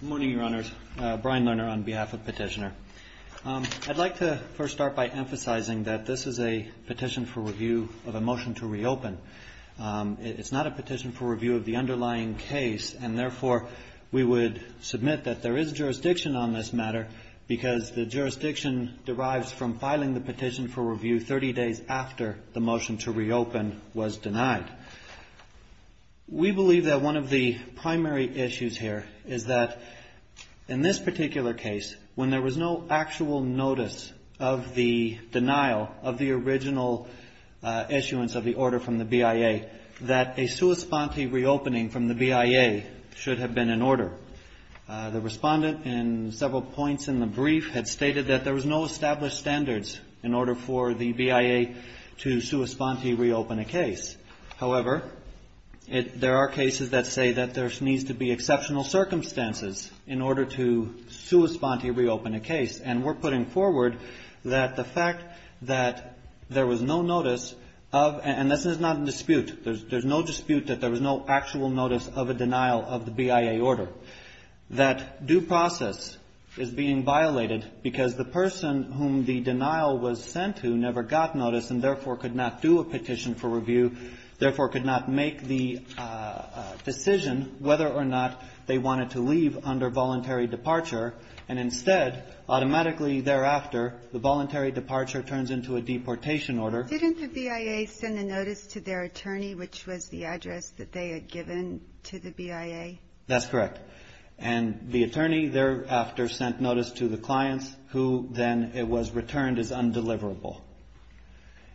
Good morning, Your Honors. Brian Lerner on behalf of Petitioner. I'd like to first start by emphasizing that this is a petition for review of a motion to reopen. It's not a petition for review of the underlying case, and therefore we would submit that there is jurisdiction on this matter because the jurisdiction derives from filing the petition for review 30 days after the motion to reopen was denied. We believe that one of the primary issues here is that in this particular case, when there was no actual notice of the denial of the original issuance of the order from the BIA, that a sua sponte reopening from the BIA should have been in order. The respondent in several points in the brief had stated that there was no established standards in order for the BIA to sua sponte reopen a case. However, there are cases that say that there needs to be exceptional circumstances in order to sua sponte reopen a case, and we're putting forward that the fact that there was no notice of, and this is not in dispute, there's no dispute that there was no actual notice of a denial of the BIA order, that due process is being violated because the person whom the denial was sent to never got notice and therefore could not do a petition for review, therefore could not make the decision whether or not they wanted to leave under voluntary departure. And instead, automatically thereafter, the voluntary departure turns into a deportation order. Didn't the BIA send a notice to their attorney, which was the address that they had given to the BIA? That's correct. And the attorney thereafter sent notice to the clients who then it was returned as undeliverable.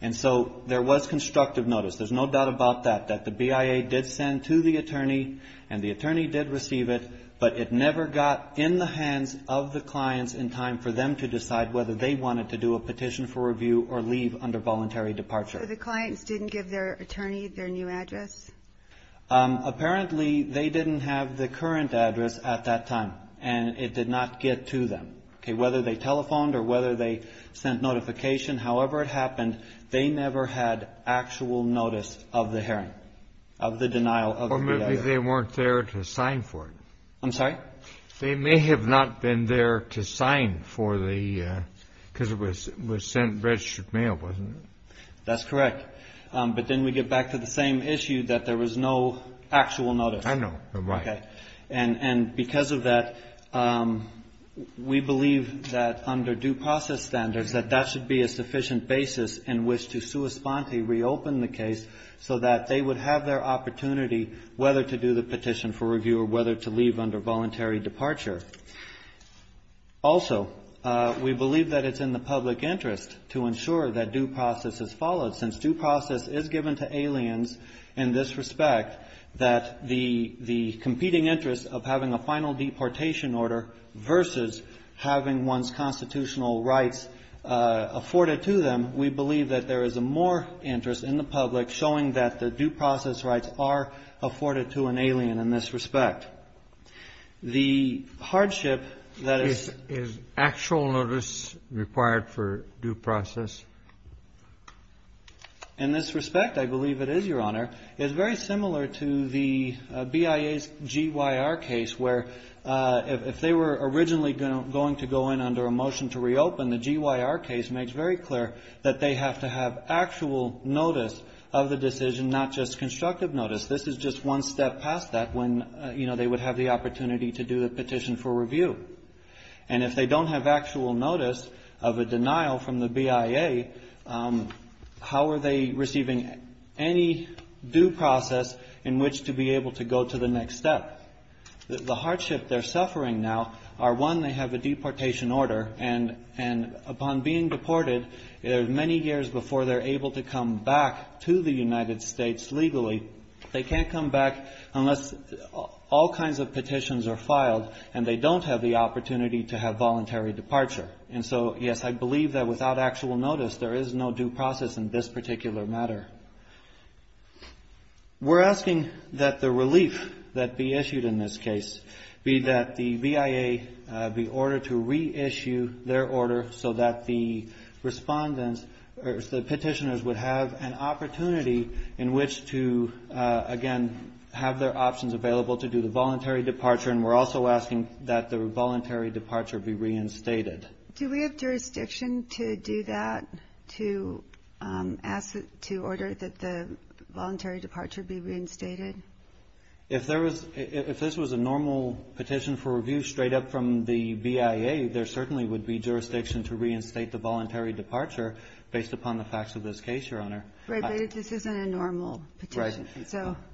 And so there was constructive notice, there's no doubt about that, that the BIA did send to the attorney and the attorney did receive it, but it never got in the hands of the clients in time for them to decide whether they wanted to do a petition for review or leave under voluntary departure. So the clients didn't give their attorney their new address? Apparently, they didn't have the current address at that time and it did not get to them. Whether they telephoned or whether they sent notification, however it happened, they never had actual notice of the hearing, of the denial of the BIA. Or maybe they weren't there to sign for it. I'm sorry? They may have not been there to sign for the, because it was sent registered mail, wasn't it? That's correct. But then we get back to the same issue that there was no actual notice. I know, right. And because of that, we believe that under due process standards, that that should be a sufficient basis in which to sui sponte reopen the case so that they would have their opportunity whether to do the petition for review or whether to leave under voluntary departure. Also, we believe that it's in the public interest to ensure that due process is followed. Since due process is given to aliens in this respect, that the competing interest of having a final deportation order versus having one's constitutional rights afforded to them, we believe that there is a more interest in the public showing that the due process rights are afforded to an alien in this respect. The hardship that is... Is actual notice required for due process? In this respect, I believe it is, Your Honor. It's very similar to the BIA's GYR case where if they were originally going to go in under a motion to reopen, the GYR case makes very clear that they have to have actual notice of the decision, not just constructive notice. This is just one step past that when, you know, they would have the opportunity to do the petition for review. And if they don't have actual notice of a denial from the BIA, how are they receiving any due process in which to be able to go to the next step? The hardship they're suffering now are, one, they have a deportation order, and upon being deported, many years before they're able to come back to the United States legally, they can't come back unless all kinds of petitions are filed and they don't have the opportunity to have voluntary departure. And so, yes, I believe that without actual notice, there is no due process in this particular matter. We're asking that the relief that be issued in this case be that the BIA be ordered to reissue their order so that the respondents or the petitioners would have an opportunity in which to, again, have their options available to do the voluntary departure. And we're also asking that the voluntary departure be reinstated. Do we have jurisdiction to do that, to ask to order that the voluntary departure be reinstated? If this was a normal petition for review straight up from the BIA, there certainly would be jurisdiction to reinstate the voluntary departure based upon the facts of this case, Your Honor. Right. But this isn't a normal petition. Right. So —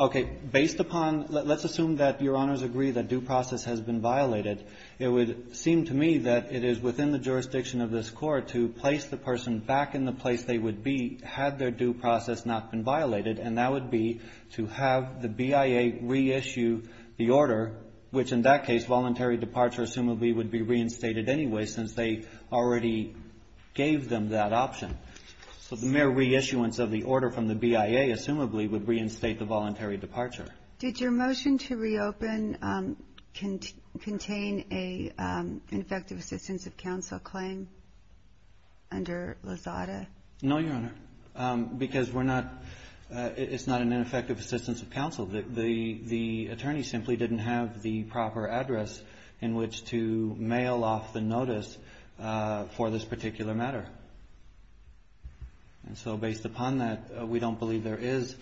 Okay. Based upon — let's assume that Your Honors agree that due process has been violated. It would seem to me that it is within the jurisdiction of this Court to place the person back in the place they would be had their due process not been violated, and that would be to have the BIA reissue the order, which in that case, voluntary departure assumably would be reinstated anyway since they already gave them that option. So the mere reissuance of the order from the BIA, assumably, would reinstate the voluntary departure. Did your motion to reopen contain an ineffective assistance of counsel claim under Lozada? No, Your Honor, because we're not — it's not an ineffective assistance of counsel. The attorney simply didn't have the proper address in which to mail off the notice for this particular matter. And so based upon that, we don't believe there is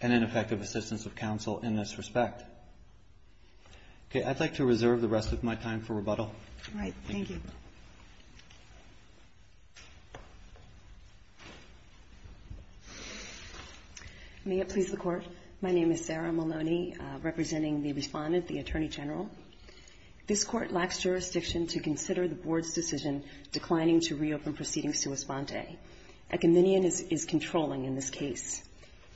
an ineffective assistance of counsel in this respect. Okay. I'd like to reserve the rest of my time for rebuttal. All right. Thank you. May it please the Court. My name is Sarah Maloney, representing the Respondent, the Attorney General. This Court lacks jurisdiction to consider the Board's decision declining to reopen proceeding sua sponte. A committee is controlling in this case.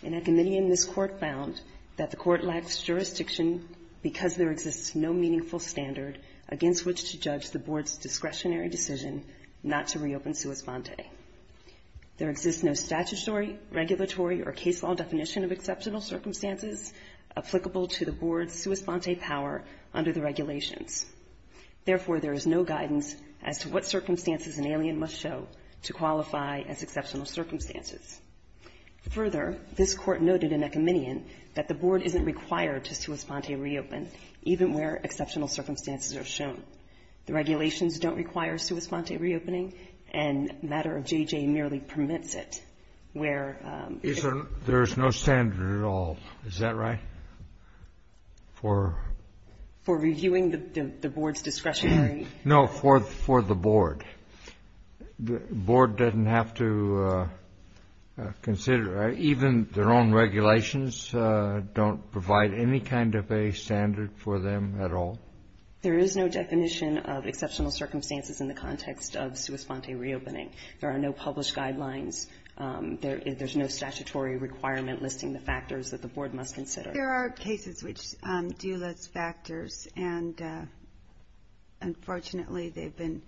In a committee in this Court found that the Court lacks jurisdiction because there exists no meaningful standard against which to judge the Board's discretionary decision not to reopen sua sponte. There exists no statutory, regulatory, or case law definition of exceptional circumstances applicable to the Board's sua sponte power under the regulations. Therefore, there is no guidance as to what circumstances an alien must show to qualify as exceptional circumstances. Further, this Court noted in a committee that the Board isn't required to sua sponte reopen, even where exceptional circumstances are shown. The regulations don't require sua sponte reopening, and the matter of J.J. merely permits it. There is no standard at all. Is that right? For reviewing the Board's discretionary? No, for the Board. The Board doesn't have to consider. Even their own regulations don't provide any kind of a standard for them at all. There is no definition of exceptional circumstances in the context of sua sponte reopening. There are no published guidelines. There's no statutory requirement listing the factors that the Board must consider. There are cases which do list factors, and unfortunately, they've been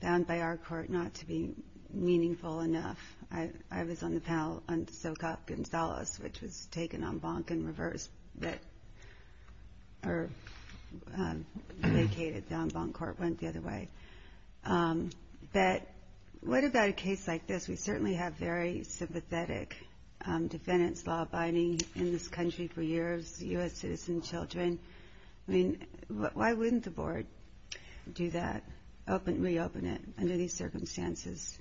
found by our Court not to be meaningful enough. I was on the panel on Socop Gonzales, which was taken en banc in reverse. But what about a case like this? We certainly have very sympathetic defendants law-abiding in this country for years, U.S. citizen children. I mean, why wouldn't the Board do that, reopen it under these circumstances?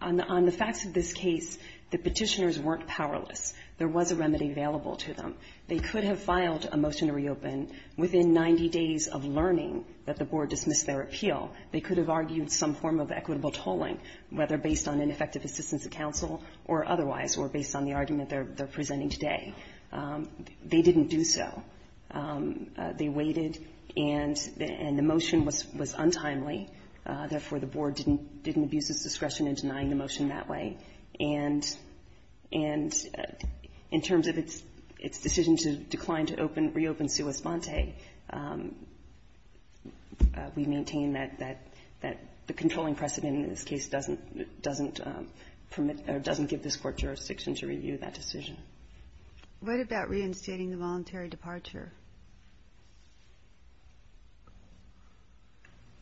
On the facts of this case, the petitioners weren't powerless. There was a remedy available to them. They could have filed a motion to reopen within 90 days of learning that the Board dismissed their appeal. They could have argued some form of equitable tolling, whether based on ineffective assistance of counsel or otherwise, or based on the argument they're presenting today. They didn't do so. They waited, and the motion was untimely. Therefore, the Board didn't abuse its discretion in denying the motion that way. And in terms of its decision to decline to reopen sua sponte, we maintain that the controlling precedent in this case doesn't permit or doesn't give this Court jurisdiction to review that decision. What about reinstating the voluntary departure?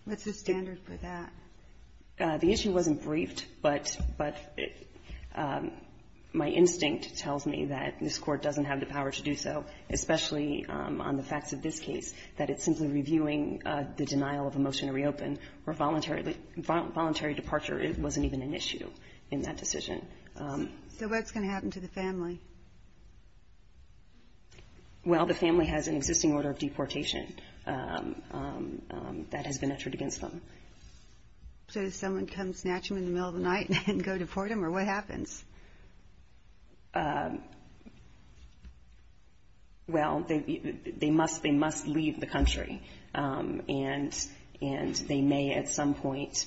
What's the standard for that? The issue wasn't briefed, but my instinct tells me that this Court doesn't have the power to do so, especially on the facts of this case, that it's simply reviewing the denial of a motion to reopen, where voluntary departure wasn't even an issue in that decision. So what's going to happen to the family? Well, the family has an existing order of deportation that has been entered against them. So does someone come snatch them in the middle of the night and go deport them, or what happens? Well, they must leave the country, and they may at some point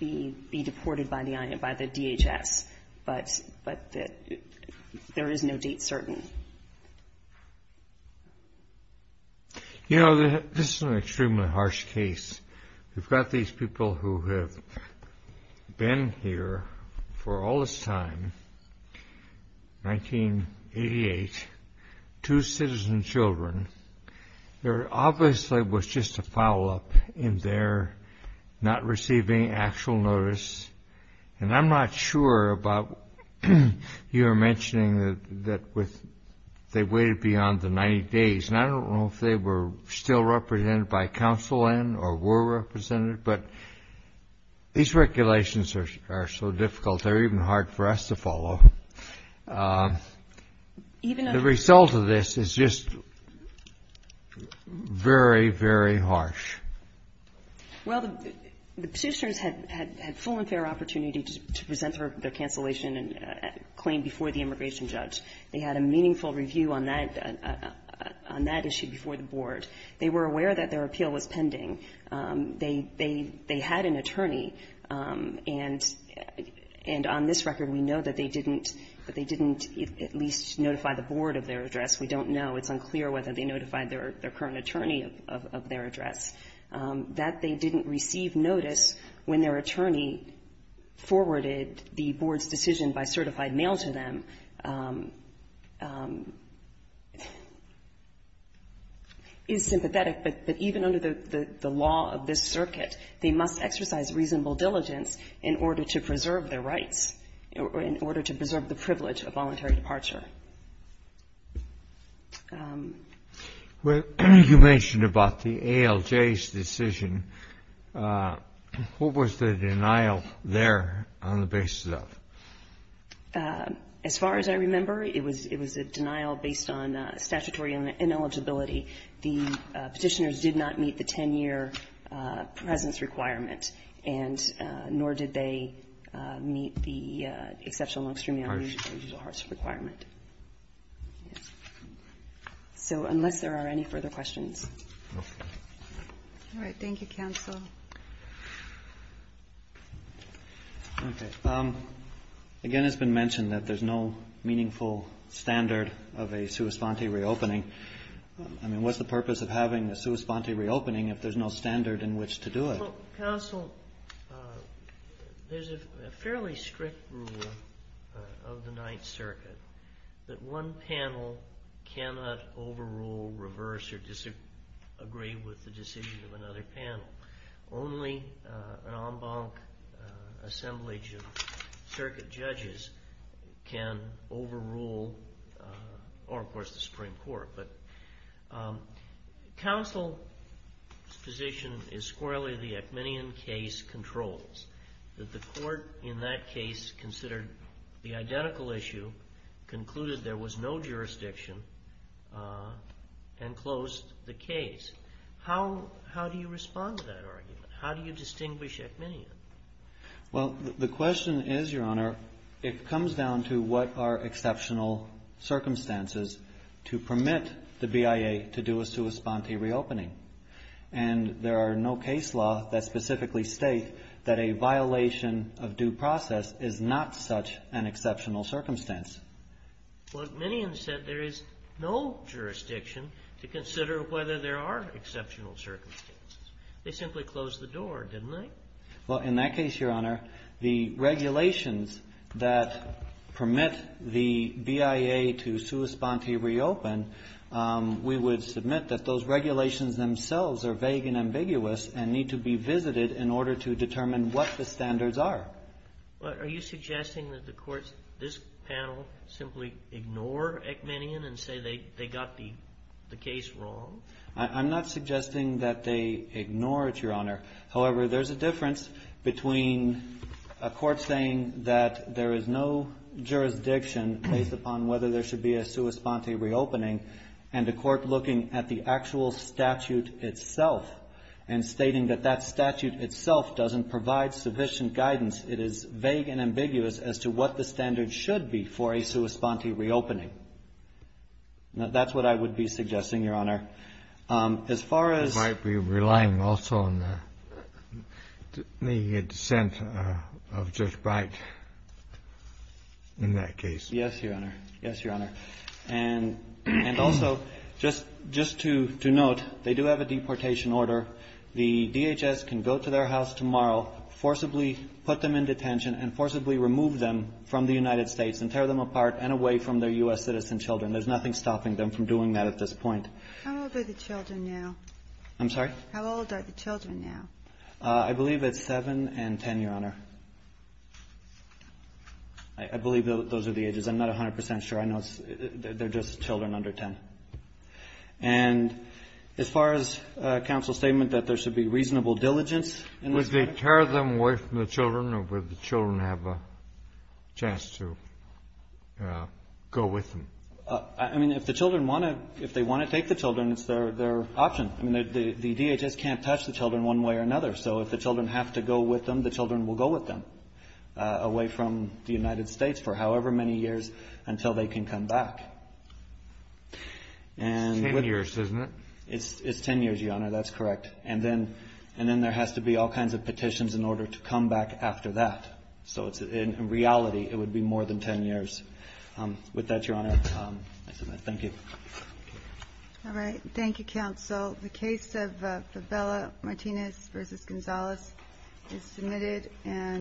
be deported by the DHS. But there is no date certain. You know, this is an extremely harsh case. We've got these people who have been here for all this time, 1988, two citizen children. There obviously was just a foul-up in their not receiving actual notice, and I'm not sure about your mentioning that they waited beyond the 90 days, and I don't know if they were still represented by counsel then or were represented, but these regulations are so difficult, they're even hard for us to follow. The result of this is just very, very harsh. Well, the petitioners had full and fair opportunity to present their cancellation claim before the immigration judge. They had a meaningful review on that issue before the board. They were aware that their appeal was pending. They had an attorney, and on this record, we know that they didn't at least notify the board of their address. We don't know. It's unclear whether they notified their current attorney of their address. That they didn't receive notice when their attorney forwarded the board's decision by certified mail to them is sympathetic, but even under the law of this circuit, they must exercise reasonable diligence in order to preserve their rights or in order to preserve the privilege of voluntary departure. Well, you mentioned about the ALJ's decision. What was the denial there on the basis of? As far as I remember, it was a denial based on statutory ineligibility. The petitioners did not meet the 10-year presence requirement, and nor did they meet the exceptional and extremely unusual hardship requirement. So unless there are any further questions. All right. Thank you, counsel. Okay. Again, it's been mentioned that there's no meaningful standard of a sua sponte reopening. I mean, what's the purpose of having a sua sponte reopening if there's no standard in which to do it? Well, counsel, there's a fairly strict rule of the Ninth Circuit that one panel cannot overrule, reverse, or disagree with the decision of another panel. Only an en banc assemblage of circuit judges can overrule, or of course the Supreme Court. But counsel's position is squarely the Ekmanian case controls, that the court in that case considered the identical issue, concluded there was no jurisdiction, and closed the case. How do you respond to that argument? How do you distinguish Ekmanian? Well, the question is, Your Honor, it comes down to what are exceptional circumstances to permit the BIA to do a sua sponte reopening. And there are no case law that specifically state that a violation of due process is not such an exceptional circumstance. Well, Ekmanian said there is no jurisdiction to consider whether there are exceptional circumstances. They simply closed the door, didn't they? Well, in that case, Your Honor, the regulations that permit the BIA to sua sponte reopen, we would submit that those regulations themselves are vague and ambiguous and need to be visited in order to determine what the standards are. Are you suggesting that the courts, this panel, simply ignore Ekmanian and say they got the case wrong? I'm not suggesting that they ignore it, Your Honor. However, there's a difference between a court saying that there is no jurisdiction based upon whether there should be a sua sponte reopening and a court looking at the actual statute itself and stating that that statute itself doesn't provide sufficient guidance. It is vague and ambiguous as to what the standard should be for a sua sponte reopening. Now, that's what I would be suggesting, Your Honor. As far as... I might be relying also on the dissent of Judge Bright in that case. Yes, Your Honor. Yes, Your Honor. And also, just to note, they do have a deportation order. The DHS can go to their house tomorrow, forcibly put them in detention and forcibly remove them from the United States and tear them apart and away from their U.S. citizen children. There's nothing stopping them from doing that at this point. How old are the children now? I believe it's 7 and 10, Your Honor. I believe those are the ages. I'm not 100 percent sure. I know they're just children under 10. And as far as counsel's statement that there should be reasonable diligence in this matter... Would they tear them away from the children or would the children have a chance to go with them? I mean, if the children want to, if they want to take the children, it's their option. I mean, the DHS can't touch the children one way or another. So if the children have to go with them, the children will go with them away from the United States for however many years until they can come back. It's 10 years, isn't it? It's 10 years, Your Honor. That's correct. And then there has to be all kinds of petitions in order to come back after that. So in reality, it is 10 years, isn't it?